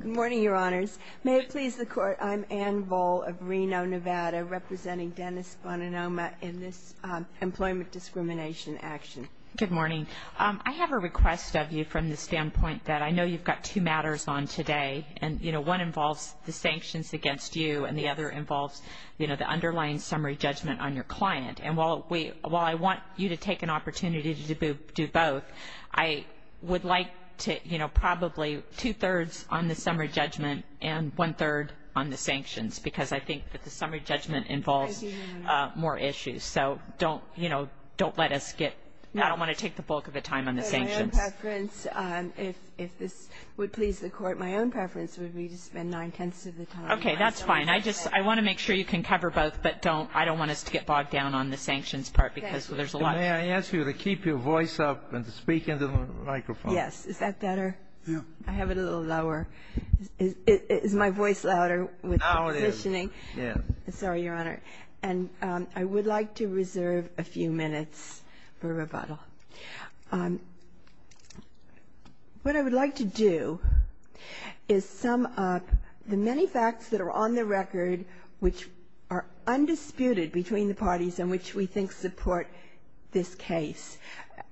Good morning, Your Honors. May it please the Court, I'm Ann Voll of Reno, Nevada, representing Dennis Bonanoma in this employment discrimination action. Good morning. I have a request of you from the standpoint that I know you've got two matters on today, and one involves the sanctions against you and the other involves the underlying summary judgment on your client. And while I want you to take an opportunity to do both, I would like to, you know, probably two-thirds on the summary judgment and one-third on the sanctions, because I think that the summary judgment involves more issues. So don't, you know, don't let us get – I don't want to take the bulk of the time on the sanctions. But my own preference, if this would please the Court, my own preference would be to spend nine-tenths of the time. Okay. That's fine. I just – I want to make sure you can cover both, but don't – I don't want us to get bogged down on the sanctions part because there's a lot. May I ask you to keep your voice up and to speak into the microphone? Yes. Is that better? Yeah. I have it a little lower. Is my voice louder with the positioning? Now it is. Yes. Sorry, Your Honor. And I would like to reserve a few minutes for rebuttal. What I would like to do is sum up the many facts that are on the record which are undisputed between the parties in which we think support this case,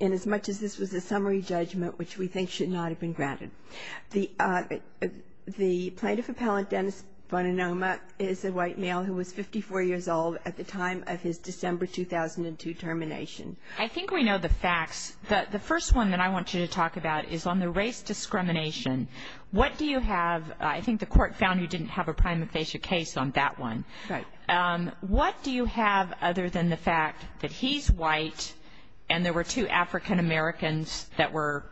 inasmuch as this was a summary judgment which we think should not have been granted. The plaintiff appellant, Dennis Boninoma, is a white male who was 54 years old at the time of his December 2002 termination. I think we know the facts. The first one that I want you to talk about is on the race discrimination. What do you have – I think the court found you didn't have a prima facie case on that one. Right. What do you have other than the fact that he's white and there were two African Americans that were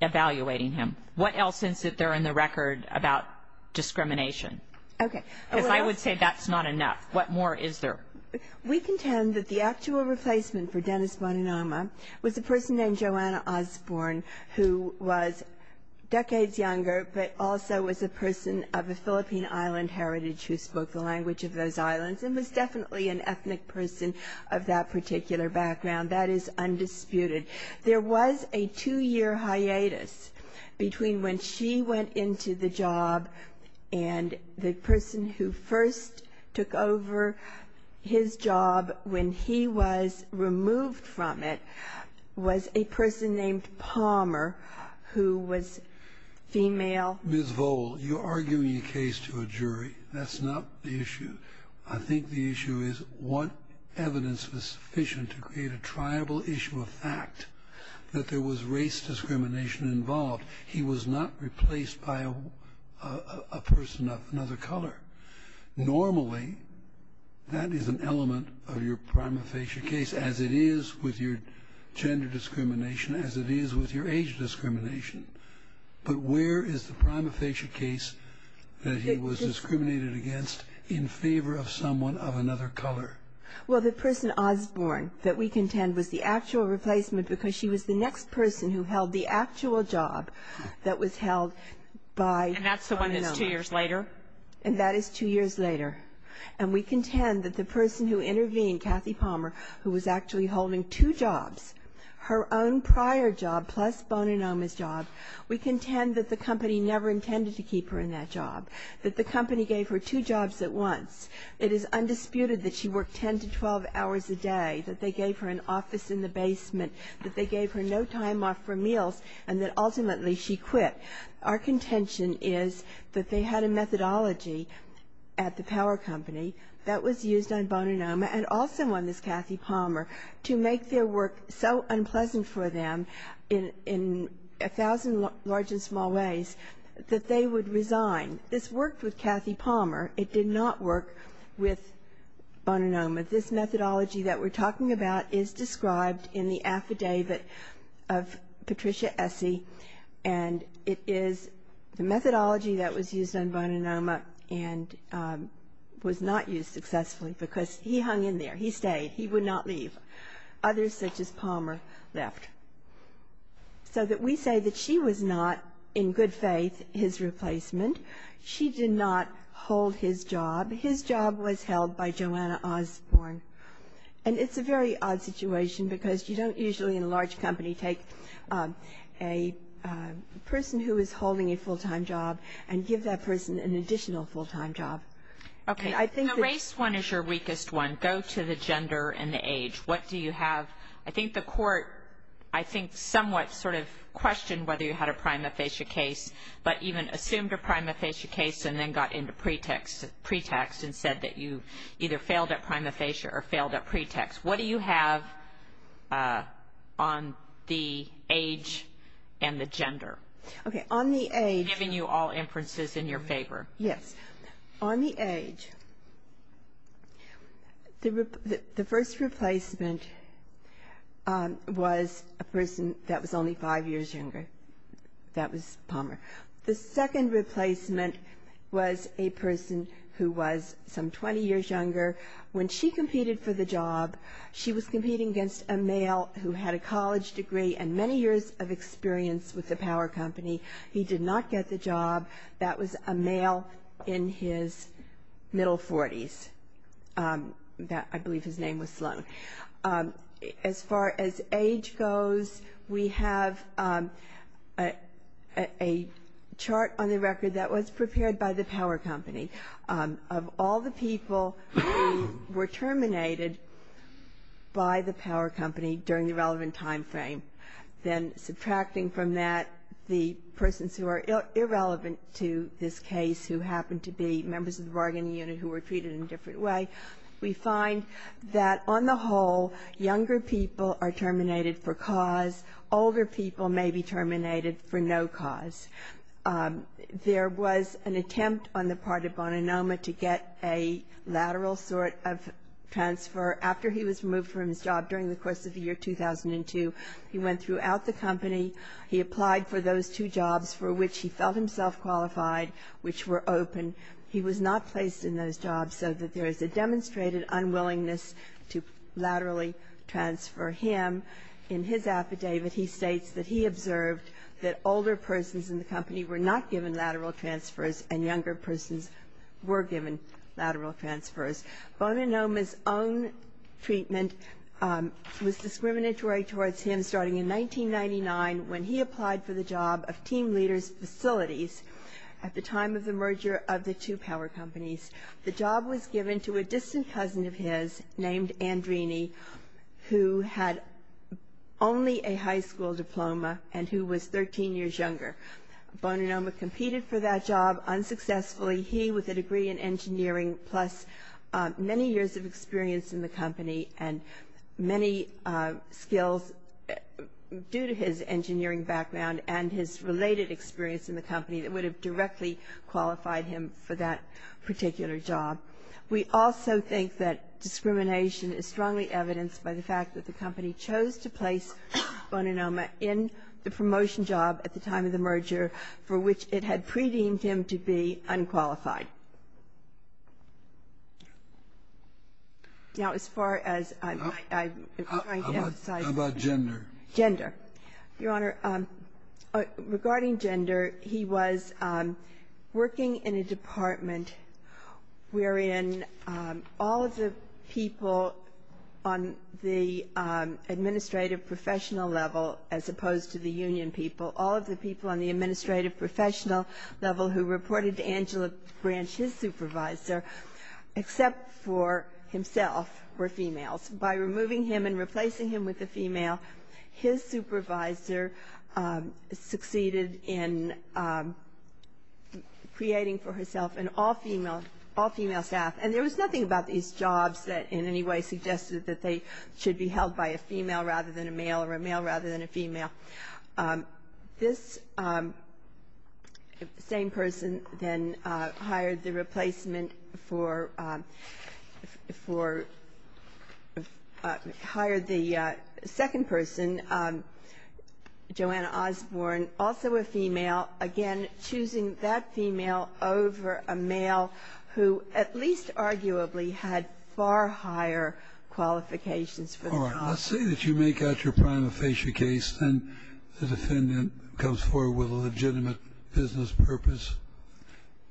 evaluating him? What else is there in the record about discrimination? Okay. Because I would say that's not enough. What more is there? We contend that the actual replacement for Dennis Boninoma was a person named Joanna Osborne who was decades younger but also was a person of a Philippine island heritage who spoke the language of those islands and was definitely an ethnic person of that particular background. That is undisputed. There was a two-year hiatus between when she went into the job and the person who first took over his job when he was removed from it was a person named Palmer who was female. Ms. Vole, you're arguing a case to a jury. That's not the issue. I think the issue is what evidence was sufficient to create a triable issue of fact that there was race discrimination involved. He was not replaced by a person of another color. Normally, that is an element of your prima facie case as it is with your gender discrimination, as it is with your age discrimination. But where is the prima facie case that he was discriminated against in favor of someone of another color? Well, the person Osborne that we contend was the actual replacement because she was the next person who held the actual job that was held by Boninoma. And that's the one that's two years later? And that is two years later. And we contend that the person who intervened, Kathy Palmer, who was actually holding two jobs, her own prior job plus Boninoma's job, we contend that the company never intended to keep her in that job, that the company gave her two jobs at once. That they gave her an office in the basement, that they gave her no time off for meals, and that ultimately she quit. Our contention is that they had a methodology at the power company that was used on Boninoma and also on this Kathy Palmer to make their work so unpleasant for them in a thousand large and small ways that they would resign. This worked with Kathy Palmer. It did not work with Boninoma. This methodology that we're talking about is described in the affidavit of Patricia Essie, and it is the methodology that was used on Boninoma and was not used successfully because he hung in there. He stayed. He would not leave. Others, such as Palmer, left. So that we say that she was not, in good faith, his replacement. She did not hold his job. His job was held by Joanna Osborn, and it's a very odd situation because you don't usually in a large company take a person who is holding a full-time job and give that person an additional full-time job. Okay. Race one is your weakest one. Go to the gender and the age. What do you have? I think the court, I think, somewhat sort of questioned whether you had a prima facie case, but even assumed a prima facie case and then got into pretext and said that you either failed at prima facie or failed at pretext. What do you have on the age and the gender? Okay. On the age. I'm giving you all inferences in your favor. Yes. On the age, the first replacement was a person that was only five years younger. That was Palmer. The second replacement was a person who was some 20 years younger. When she competed for the job, she was competing against a male who had a college degree and many years of experience with the power company. He did not get the job. That was a male in his middle 40s. I believe his name was Sloan. As far as age goes, we have a chart on the record that was prepared by the power company. Of all the people who were terminated by the power company during the relevant time frame, then subtracting from that the persons who are irrelevant to this case who happened to be members of the bargaining unit who were treated in a different way, we find that on the whole, younger people are terminated for cause. Older people may be terminated for no cause. There was an attempt on the part of Boninoma to get a lateral sort of transfer. After he was removed from his job during the course of the year 2002, he went throughout the company. He applied for those two jobs for which he felt himself qualified, which were open. He was not placed in those jobs so that there is a demonstrated unwillingness to laterally transfer him. In his affidavit, he states that he observed that older persons in the company were not given lateral transfers and younger persons were given lateral transfers. Boninoma's own treatment was discriminatory towards him starting in 1999 when he applied for the job of team leader's facilities at the time of the merger of the two power companies. The job was given to a distant cousin of his named Andrini who had only a high school diploma and who was 13 years younger. Boninoma competed for that job unsuccessfully. He, with a degree in engineering plus many years of experience in the company and many skills due to his engineering background and his related experience in the company, would have directly qualified him for that particular job. We also think that discrimination is strongly evidenced by the fact that the company chose to place Boninoma in the promotion job at the time of the merger for which it had pre-deemed him to be unqualified. Now, as far as I'm trying to emphasize. Scalia. How about gender? Boninoma. Your Honor, regarding gender, he was working in a department wherein all of the people on the administrative professional level, as opposed to the union people, all of the people on the administrative professional level who reported to Angela Branch, his supervisor, except for himself, were females. By removing him and replacing him with a female, his supervisor succeeded in creating for herself an all-female staff. And there was nothing about these jobs that in any way suggested that they should be held by a female rather than a male or a male rather than a female. This same person then hired the replacement for, hired the second person, Joanna Osborne, also a female, again choosing that female over a male who at least arguably had far higher qualifications for the job. All right. Let's say that you make out your prima facie case and the defendant comes forward with a legitimate business purpose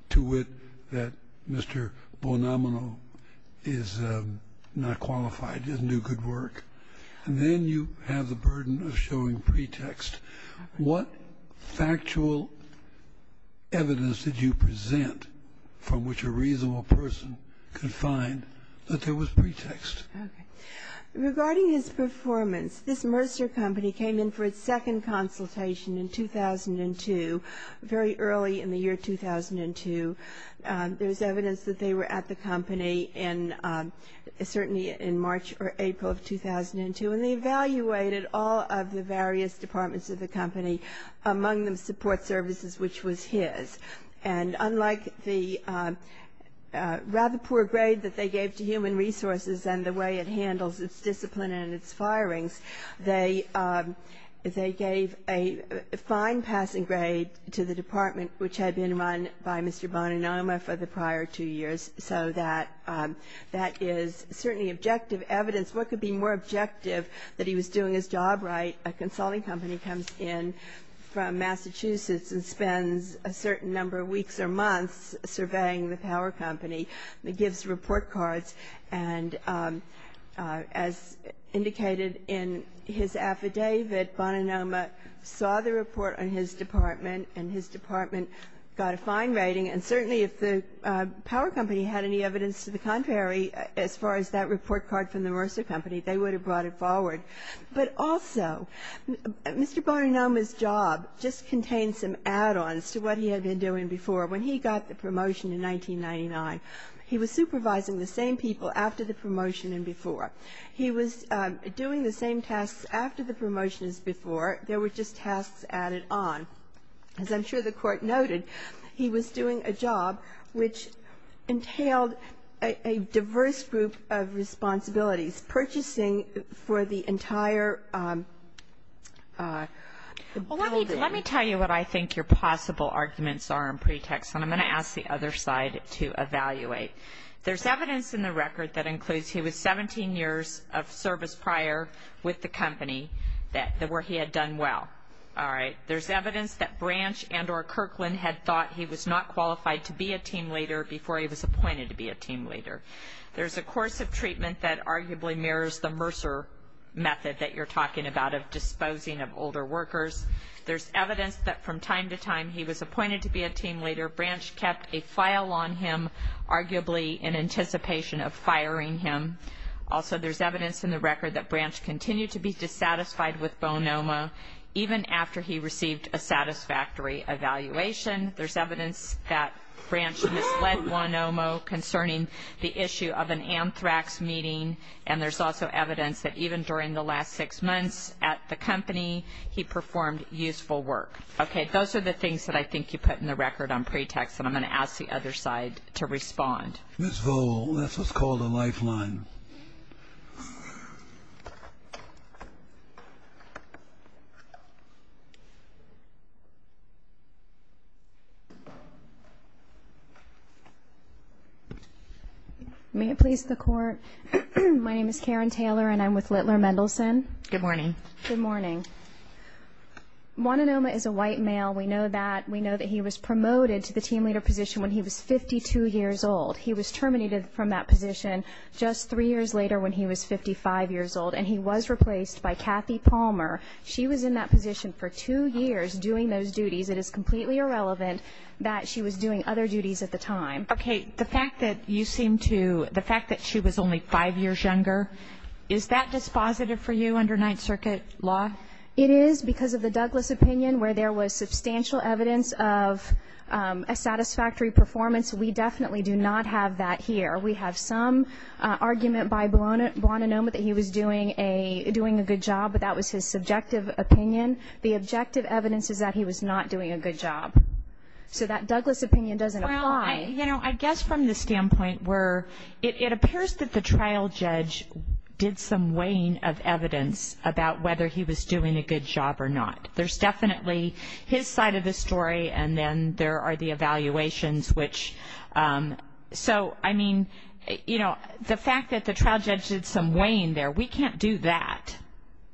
to wit that Mr. Boninoma is not qualified to do good work. And then you have the burden of showing pretext. What factual evidence did you present from which a reasonable person could find that there was pretext? Okay. Regarding his performance, this Mercer Company came in for its second consultation in 2002, very early in the year 2002. There's evidence that they were at the company in, certainly in March or April of 2002. And they evaluated all of the various departments of the company, among them support services, which was his. And unlike the rather poor grade that they gave to human resources and the way it handles its discipline and its firings, they gave a fine passing grade to the department, which had been run by Mr. Boninoma for the prior two years. So that is certainly objective evidence. What could be more objective that he was doing his job right? A consulting company comes in from Massachusetts and spends a certain number of weeks or months surveying the power company and gives report cards. And as indicated in his affidavit, Boninoma saw the report on his department, and his department got a fine rating. And certainly if the power company had any evidence to the contrary, as far as that report card from the Mercer Company, they would have brought it forward. But also, Mr. Boninoma's job just contained some add-ons to what he had been doing before. When he got the promotion in 1999, he was supervising the same people after the promotion and before. He was doing the same tasks after the promotion as before. There were just tasks added on. As I'm sure the Court noted, he was doing a job which entailed a diverse group of responsibilities, purchasing for the entire building. Well, let me tell you what I think your possible arguments are in pretext, and I'm going to ask the other side to evaluate. There's evidence in the record that includes he was 17 years of service prior with the company where he had done well. All right. There's evidence that Branch and or Kirkland had thought he was not qualified to be a team leader before he was appointed to be a team leader. There's a course of treatment that arguably mirrors the Mercer method that you're talking about of disposing of older workers. There's evidence that from time to time he was appointed to be a team leader. Branch kept a file on him, arguably in anticipation of firing him. Also, there's evidence in the record that Branch continued to be dissatisfied with Boninoma even after he received a satisfactory evaluation. There's evidence that Branch misled Boninoma concerning the issue of an anthrax meeting, and there's also evidence that even during the last six months at the company he performed useful work. Okay. Those are the things that I think you put in the record on pretext, and I'm going to ask the other side to respond. Ms. Vole, this was called a lifeline. May it please the Court. My name is Karen Taylor, and I'm with Littler Mendelsohn. Good morning. Good morning. Boninoma is a white male. We know that. We know that he was promoted to the team leader position when he was 52 years old. He was terminated from that position just three years later when he was 55 years old, and he was replaced by Kathy Palmer. She was in that position for two years doing those duties. It is completely irrelevant that she was doing other duties at the time. Okay. The fact that you seem to, the fact that she was only five years younger, is that dispositive for you under Ninth Circuit law? It is because of the Douglas opinion, where there was substantial evidence of a satisfactory performance. We definitely do not have that here. We have some argument by Boninoma that he was doing a good job, but that was his subjective opinion. The objective evidence is that he was not doing a good job. So that Douglas opinion doesn't apply. Well, you know, I guess from the standpoint where it appears that the trial judge did some weighing of evidence about whether he was doing a good job or not. There's definitely his side of the story, and then there are the evaluations, which, so, I mean, you know, the fact that the trial judge did some weighing there, we can't do that.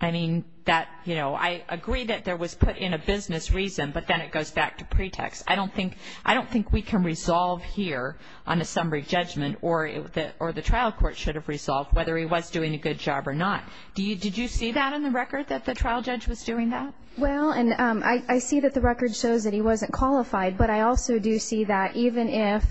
I mean, that, you know, I agree that there was put in a business reason, but then it goes back to pretext. I don't think we can resolve here on a summary judgment, or the trial court should have resolved whether he was doing a good job or not. Did you see that in the record, that the trial judge was doing that? Well, and I see that the record shows that he wasn't qualified, but I also do see that even if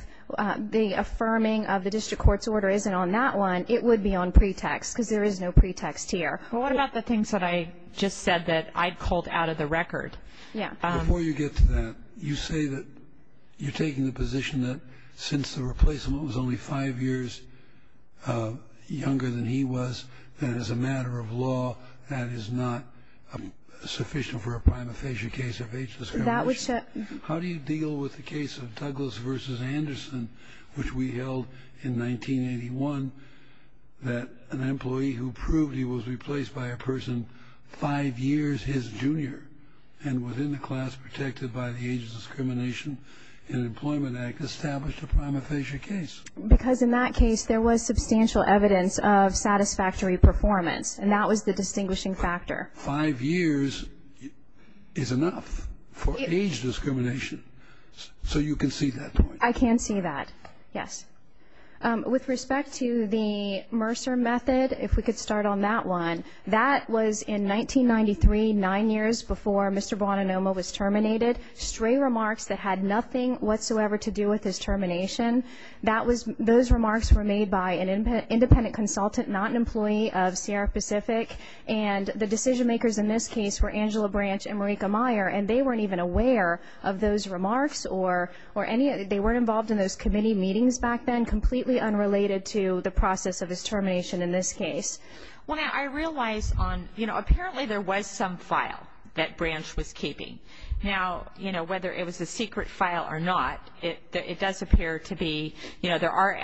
the affirming of the district court's order isn't on that one, it would be on pretext, because there is no pretext here. Well, what about the things that I just said that I'd called out of the record? Yeah. Before you get to that, you say that you're taking the position that since the replacement was only five years younger than he was, that as a matter of law, that is not sufficient for a prima facie case of age discrimination. How do you deal with the case of Douglas v. Anderson, which we held in 1981, that an employee who proved he was replaced by a person five years his junior and within the class protected by the Age of Discrimination in Employment Act had established a prima facie case? Because in that case, there was substantial evidence of satisfactory performance, and that was the distinguishing factor. Five years is enough for age discrimination. So you can see that point? I can see that, yes. With respect to the Mercer method, if we could start on that one, that was in 1993, nine years before Mr. Boninoma was terminated. Stray remarks that had nothing whatsoever to do with his termination, those remarks were made by an independent consultant, not an employee of Sierra Pacific, and the decision makers in this case were Angela Branch and Marika Meyer, and they weren't even aware of those remarks or any of it. They weren't involved in those committee meetings back then, completely unrelated to the process of his termination in this case. Well, now, I realize on, you know, apparently there was some file that Branch was keeping. Now, you know, whether it was a secret file or not, it does appear to be, you know, there are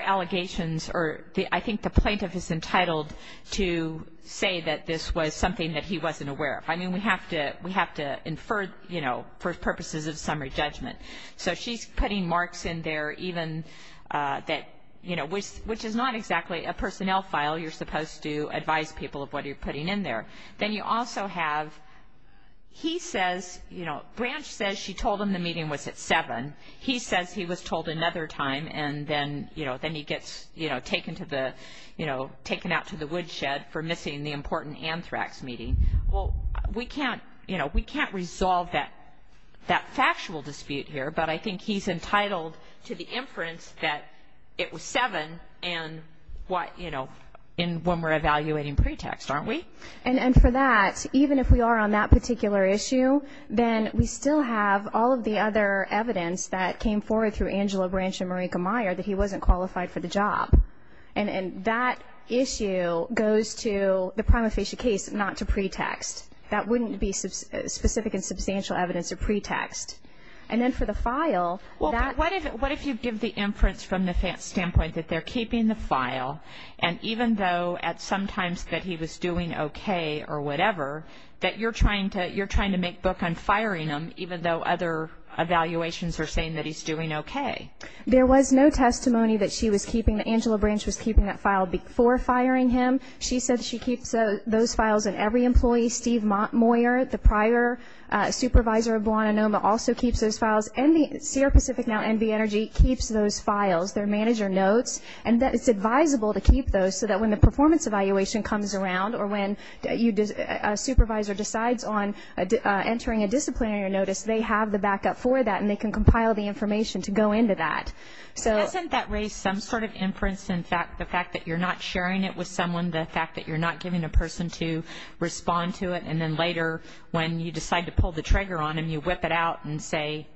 allegations or I think the plaintiff is entitled to say that this was something that he wasn't aware of. I mean, we have to infer, you know, for purposes of summary judgment. So she's putting marks in there even that, you know, which is not exactly a personnel file. You're supposed to advise people of what you're putting in there. Then you also have he says, you know, Branch says she told him the meeting was at 7. He says he was told another time, and then, you know, then he gets, you know, taken to the, you know, taken out to the woodshed for missing the important anthrax meeting. Well, we can't, you know, we can't resolve that factual dispute here, but I think he's entitled to the inference that it was 7 and what, you know, in when we're evaluating pretext, aren't we? And for that, even if we are on that particular issue, then we still have all of the other evidence that came forward through Angela Branch and Marika Meyer that he wasn't qualified for the job. And that issue goes to the prima facie case, not to pretext. That wouldn't be specific and substantial evidence of pretext. And then for the file. Well, what if you give the inference from the standpoint that they're keeping the file and even though at some times that he was doing okay or whatever, that you're trying to make book on firing him even though other evaluations are saying that he's doing okay? There was no testimony that she was keeping, that Angela Branch was keeping that file before firing him. She said she keeps those files in every employee. Steve Moyer, the prior supervisor of Blahnanoma, also keeps those files. Sierra Pacific, now NV Energy, keeps those files. Their manager notes. And it's advisable to keep those so that when the performance evaluation comes around or when a supervisor decides on entering a disciplinary notice, they have the backup for that and they can compile the information to go into that. Doesn't that raise some sort of inference? In fact, the fact that you're not sharing it with someone, the fact that you're not giving a person to respond to it, and then later when you decide to pull the trigger on them, you whip it out and say,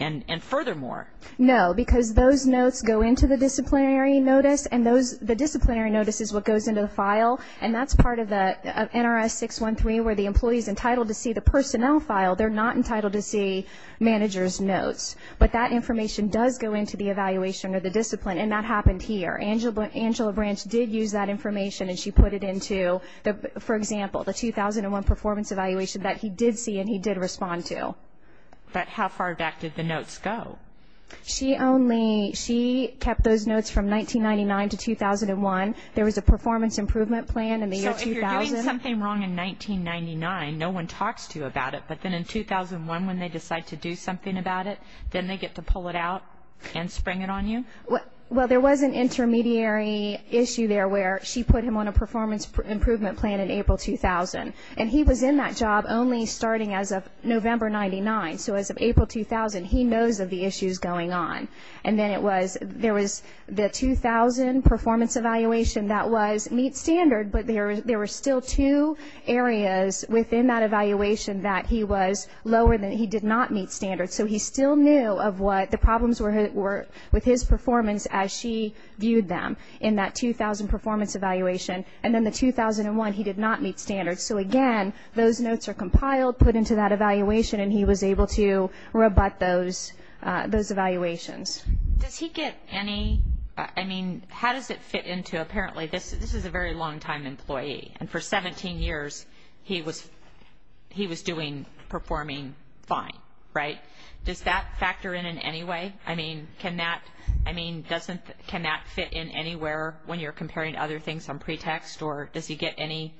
and furthermore. No, because those notes go into the disciplinary notice, and the disciplinary notice is what goes into the file, and that's part of the NRS 613 where the employee is entitled to see the personnel file. They're not entitled to see manager's notes. But that information does go into the evaluation or the discipline, and that happened here. Angela Branch did use that information, and she put it into, for example, the 2001 performance evaluation that he did see and he did respond to. But how far back did the notes go? She kept those notes from 1999 to 2001. There was a performance improvement plan in the year 2000. So if you're doing something wrong in 1999, no one talks to you about it, but then in 2001 when they decide to do something about it, then they get to pull it out and spring it on you? Well, there was an intermediary issue there where she put him on a performance improvement plan in April 2000, and he was in that job only starting as of November 1999. So as of April 2000, he knows of the issues going on. And then there was the 2000 performance evaluation that was meet standard, but there were still two areas within that evaluation that he was lower than. He did not meet standard. So he still knew of what the problems were with his performance as she viewed them in that 2000 performance evaluation. And then the 2001, he did not meet standard. So, again, those notes are compiled, put into that evaluation, and he was able to rebut those evaluations. Does he get any, I mean, how does it fit into, apparently, this is a very long-time employee, and for 17 years he was doing, performing fine, right? Does that factor in in any way? I mean, can that fit in anywhere when you're comparing other things on pretext, or does he get any,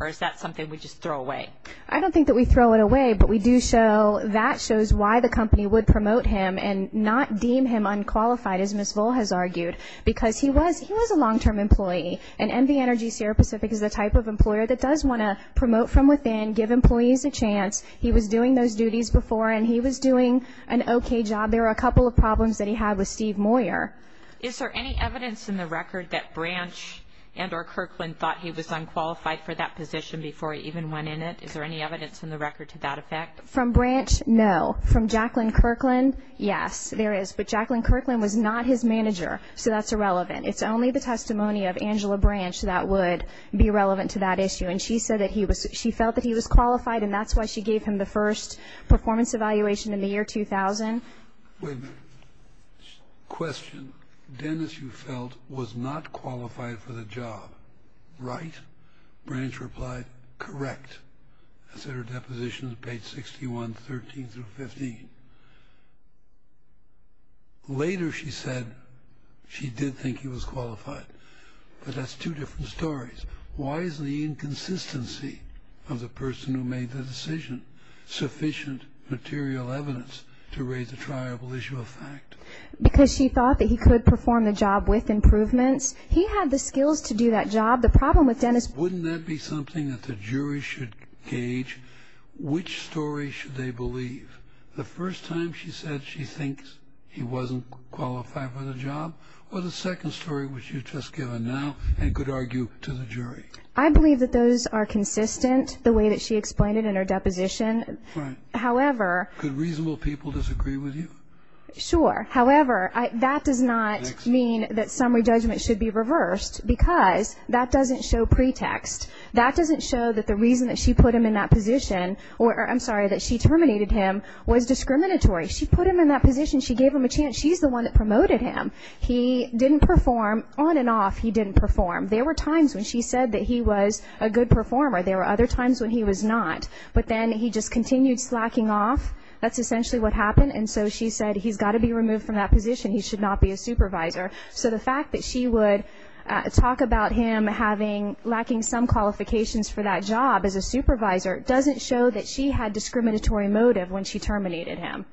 or is that something we just throw away? I don't think that we throw it away, but we do show that shows why the company would promote him and not deem him unqualified, as Ms. Vole has argued, because he was a long-term employee. And MV Energy Sierra Pacific is the type of employer that does want to promote from within, give employees a chance. He was doing those duties before, and he was doing an okay job. There were a couple of problems that he had with Steve Moyer. Is there any evidence in the record that Branch and or Kirkland thought he was unqualified for that position before he even went in it? Is there any evidence in the record to that effect? From Branch, no. From Jacqueline Kirkland, yes, there is. But Jacqueline Kirkland was not his manager, so that's irrelevant. It's only the testimony of Angela Branch that would be relevant to that issue, and she said that she felt that he was qualified, and that's why she gave him the first performance evaluation in the year 2000. Wait a minute. Question. Dennis, you felt, was not qualified for the job, right? Branch replied, correct. That's in her depositions, page 61, 13 through 15. Later she said she did think he was qualified, but that's two different stories. Why is the inconsistency of the person who made the decision sufficient material evidence to raise a triable issue of fact? Because she thought that he could perform the job with improvements. He had the skills to do that job. The problem with Dennis was that he was not qualified. Wouldn't that be something that the jury should gauge? Which story should they believe? The first time she said she thinks he wasn't qualified for the job or the second story which you've just given now and could argue to the jury? I believe that those are consistent, the way that she explained it in her deposition. Right. However. Could reasonable people disagree with you? Sure. However, that does not mean that summary judgment should be reversed because that doesn't show pretext. That doesn't show that the reason that she put him in that position or, I'm sorry, that she terminated him was discriminatory. She put him in that position. She gave him a chance. She's the one that promoted him. He didn't perform on and off. He didn't perform. There were times when she said that he was a good performer. There were other times when he was not. But then he just continued slacking off. That's essentially what happened. And so she said he's got to be removed from that position. He should not be a supervisor. So the fact that she would talk about him lacking some qualifications for that job as a supervisor doesn't show that she had discriminatory motive when she terminated him.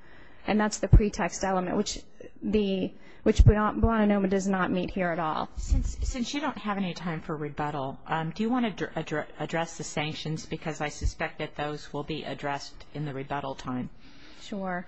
And that's the pretext element, which Buona Noma does not meet here at all. Since you don't have any time for rebuttal, do you want to address the sanctions? Because I suspect that those will be addressed in the rebuttal time. Sure.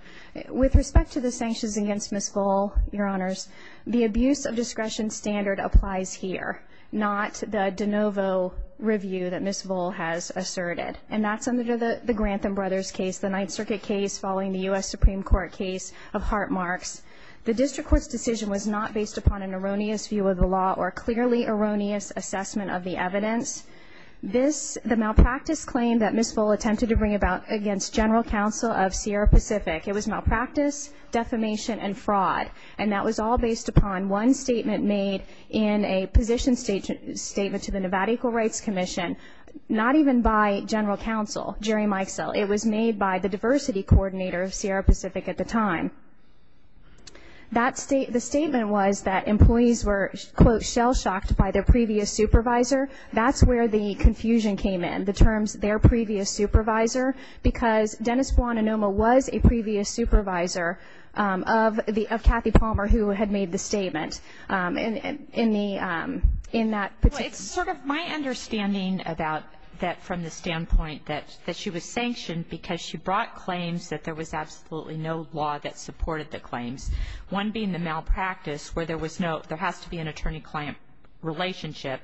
With respect to the sanctions against Ms. Vole, Your Honors, the abuse of discretion standard applies here, not the de novo review that Ms. Vole has asserted. And that's under the Grantham Brothers case, the Ninth Circuit case following the U.S. Supreme Court case of heart marks. The district court's decision was not based upon an erroneous view of the law or clearly erroneous assessment of the evidence. The malpractice claim that Ms. Vole attempted to bring about against general counsel of Sierra Pacific, it was malpractice, defamation, and fraud. And that was all based upon one statement made in a position statement to the Nevada Equal Rights Commission, not even by general counsel, Jerry Mikesell. It was made by the diversity coordinator of Sierra Pacific at the time. The statement was that employees were, quote, shell-shocked by their previous supervisor. That's where the confusion came in, the terms their previous supervisor, because Dennis Guantanamo was a previous supervisor of Kathy Palmer, who had made the statement. In that particular case. Well, it's sort of my understanding about that from the standpoint that she was sanctioned because she brought claims that there was absolutely no law that supported the claims, one being the malpractice where there was no ‑‑ there has to be an attorney-client relationship,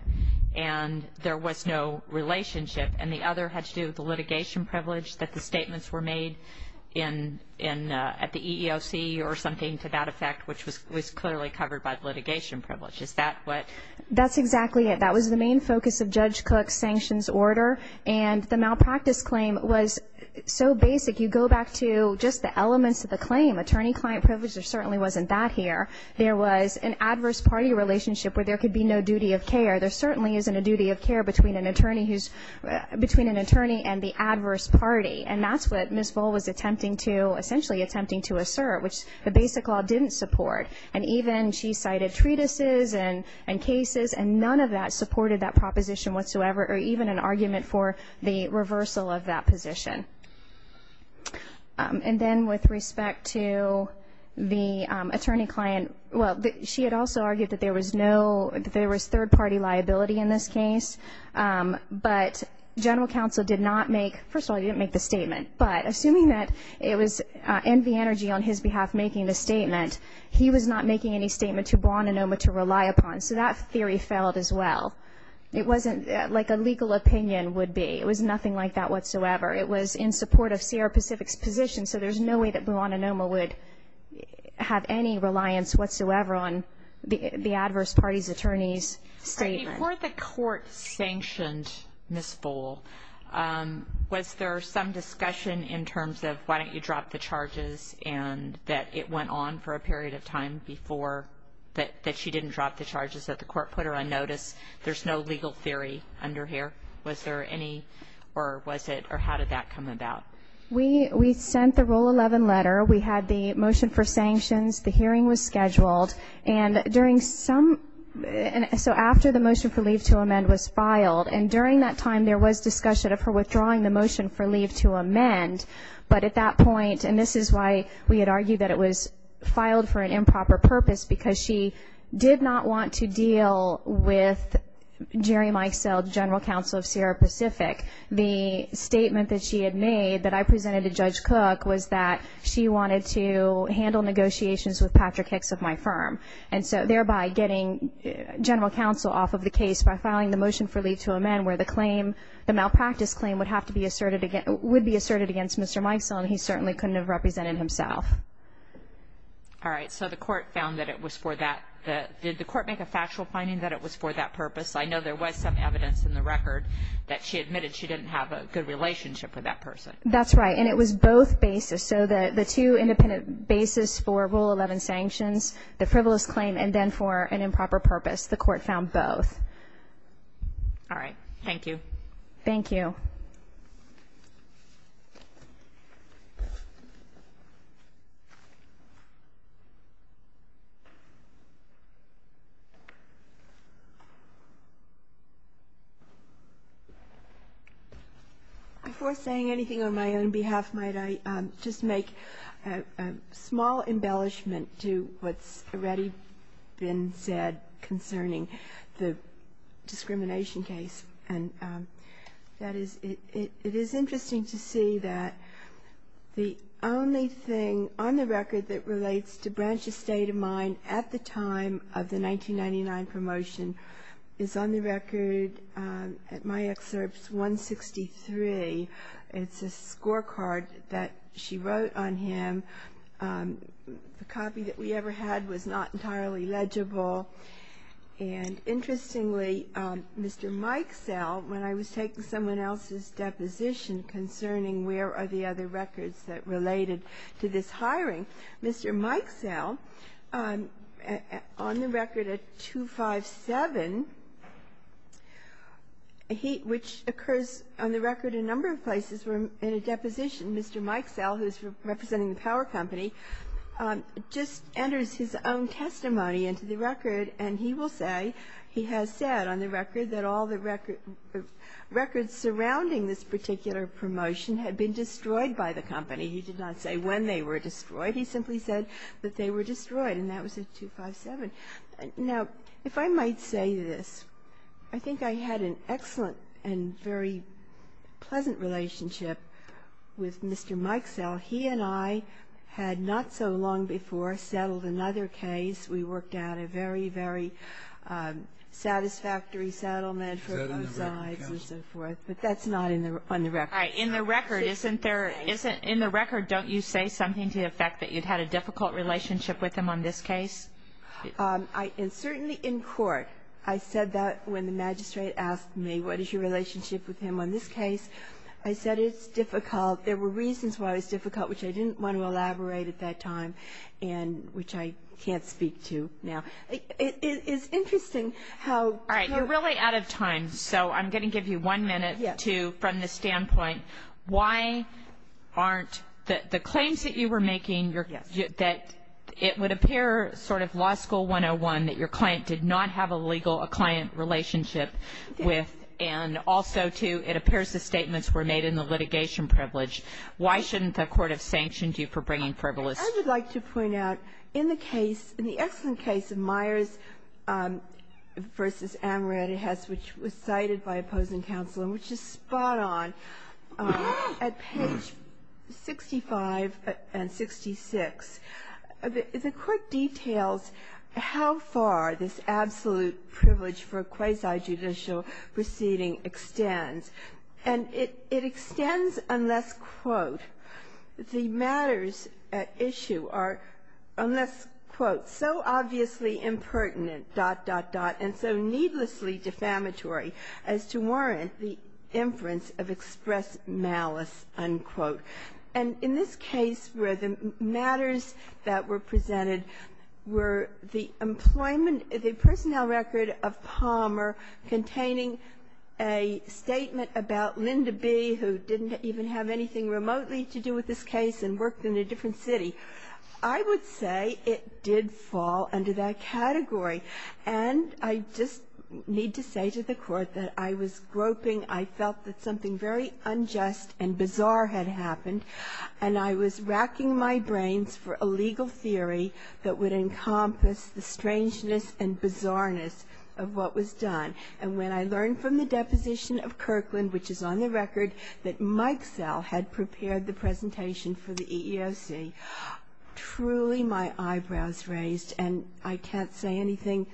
and there was no relationship, and the other had to do with the litigation privilege that the statements were made at the EEOC or something to that effect, which was clearly covered by litigation privilege. Is that what ‑‑ That's exactly it. That was the main focus of Judge Cook's sanctions order, and the malpractice claim was so basic, you go back to just the elements of the claim, attorney-client privilege, there certainly wasn't that here. There was an adverse party relationship where there could be no duty of care. There certainly isn't a duty of care between an attorney and the adverse party, and that's what Ms. Voll was attempting to ‑‑ essentially attempting to assert, which the basic law didn't support, and even she cited treatises and cases, and none of that supported that proposition whatsoever, or even an argument for the reversal of that position. And then with respect to the attorney-client ‑‑ well, she had also argued that there was no ‑‑ that there was third-party liability in this case, but general counsel did not make ‑‑ first of all, he didn't make the statement, but assuming that it was NV Energy on his behalf making the statement, he was not making any statement to Buonanoma to rely upon, so that theory failed as well. It wasn't like a legal opinion would be. It was nothing like that whatsoever. It was in support of Sierra Pacific's position, so there's no way that Buonanoma would have any reliance whatsoever on the adverse party's attorney's statement. Before the court sanctioned Ms. Voll, was there some discussion in terms of why don't you drop the charges and that it went on for a period of time before that she didn't drop the charges that the court put her on notice? There's no legal theory under here. Was there any, or was it, or how did that come about? We sent the Rule 11 letter. We had the motion for sanctions. The hearing was scheduled. And during some ‑‑ so after the motion for leave to amend was filed, and during that time there was discussion of her withdrawing the motion for leave to amend, but at that point, and this is why we had argued that it was filed for an improper purpose, because she did not want to deal with Jerry Mikesell, general counsel of Sierra Pacific. The statement that she had made that I presented to Judge Cook was that she wanted to handle negotiations with Patrick Hicks of my firm, and so thereby getting general counsel off of the case by filing the motion for leave to amend where the claim, the malpractice claim would have to be asserted against, would be asserted against Mr. Mikesell, and he certainly couldn't have represented himself. All right. So the court found that it was for that. Did the court make a factual finding that it was for that purpose? I know there was some evidence in the record that she admitted she didn't have a good relationship with that person. That's right. And it was both basis. So the two independent basis for Rule 11 sanctions, the frivolous claim, and then for an improper purpose, the court found both. All right. Thank you. Thank you. Before saying anything on my own behalf, might I just make a small embellishment to what's already been said concerning the discrimination case, and that is it is interesting to see that the only thing on the record that relates to Branch's state of mind at the time of the 1999 promotion is on the record at my excerpts 163. It's a scorecard that she wrote on him. The copy that we ever had was not entirely legible. And interestingly, Mr. Mikesell, when I was taking someone else's deposition concerning where are the other records that related to this hiring, Mr. Mikesell, on the record at 257, which occurs on the record in a number of places where in a deposition Mr. Mikesell, who's representing the power company, just enters his own testimony into the record, and he will say he has said on the record that all the records surrounding this particular promotion had been destroyed by the company. He did not say when they were destroyed. He simply said that they were destroyed, and that was at 257. Now, if I might say this, I think I had an excellent and very pleasant relationship with Mr. Mikesell. He and I had not so long before settled another case. We worked out a very, very satisfactory settlement for both sides and so forth. But that's not on the record. All right. In the record, don't you say something to the effect that you'd had a difficult relationship with him on this case? Certainly in court. I said that when the magistrate asked me, what is your relationship with him on this case? I said it's difficult. There were reasons why it was difficult, which I didn't want to elaborate at that time and which I can't speak to now. It's interesting how you're- All right. You're really out of time. So I'm going to give you one minute to, from the standpoint, why aren't the claims that you were making, that it would appear sort of Law School 101 that your client did not have a legal, a client relationship with, and also, too, it appears the statements were made in the litigation privilege. Why shouldn't the court have sanctioned you for bringing frivolous- I would like to point out, in the case, in the excellent case of Myers v. Amaretti Hess, which was cited by opposing counsel and which is spot on at page 65 and 66, the court details how far this absolute privilege for quasi-judicial proceeding extends. And it extends unless, quote, the matters at issue are, unless, quote, so obviously impertinent, dot, dot, dot, and so needlessly defamatory as to warrant the inference of express malice, unquote. And in this case where the matters that were presented were the employment of the personnel record of Palmer containing a statement about Linda B., who didn't even have anything remotely to do with this case and worked in a different city, I would say it did fall under that category. And I just need to say to the court that I was groping, I felt that something very unjust and bizarre had happened, and I was racking my brains for a legal theory that would encompass the strangeness and bizarreness of what was done. And when I learned from the deposition of Kirkland, which is on the record, that Mike Sell had prepared the presentation for the EEOC, truly my eyebrows raised, and I can't say anything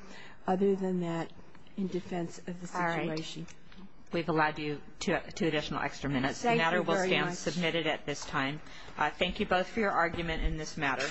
other than that in defense of the situation. All right. We've allowed you two additional extra minutes. Thank you very much. The matter will stand submitted at this time. Thank you both for your argument in this matter.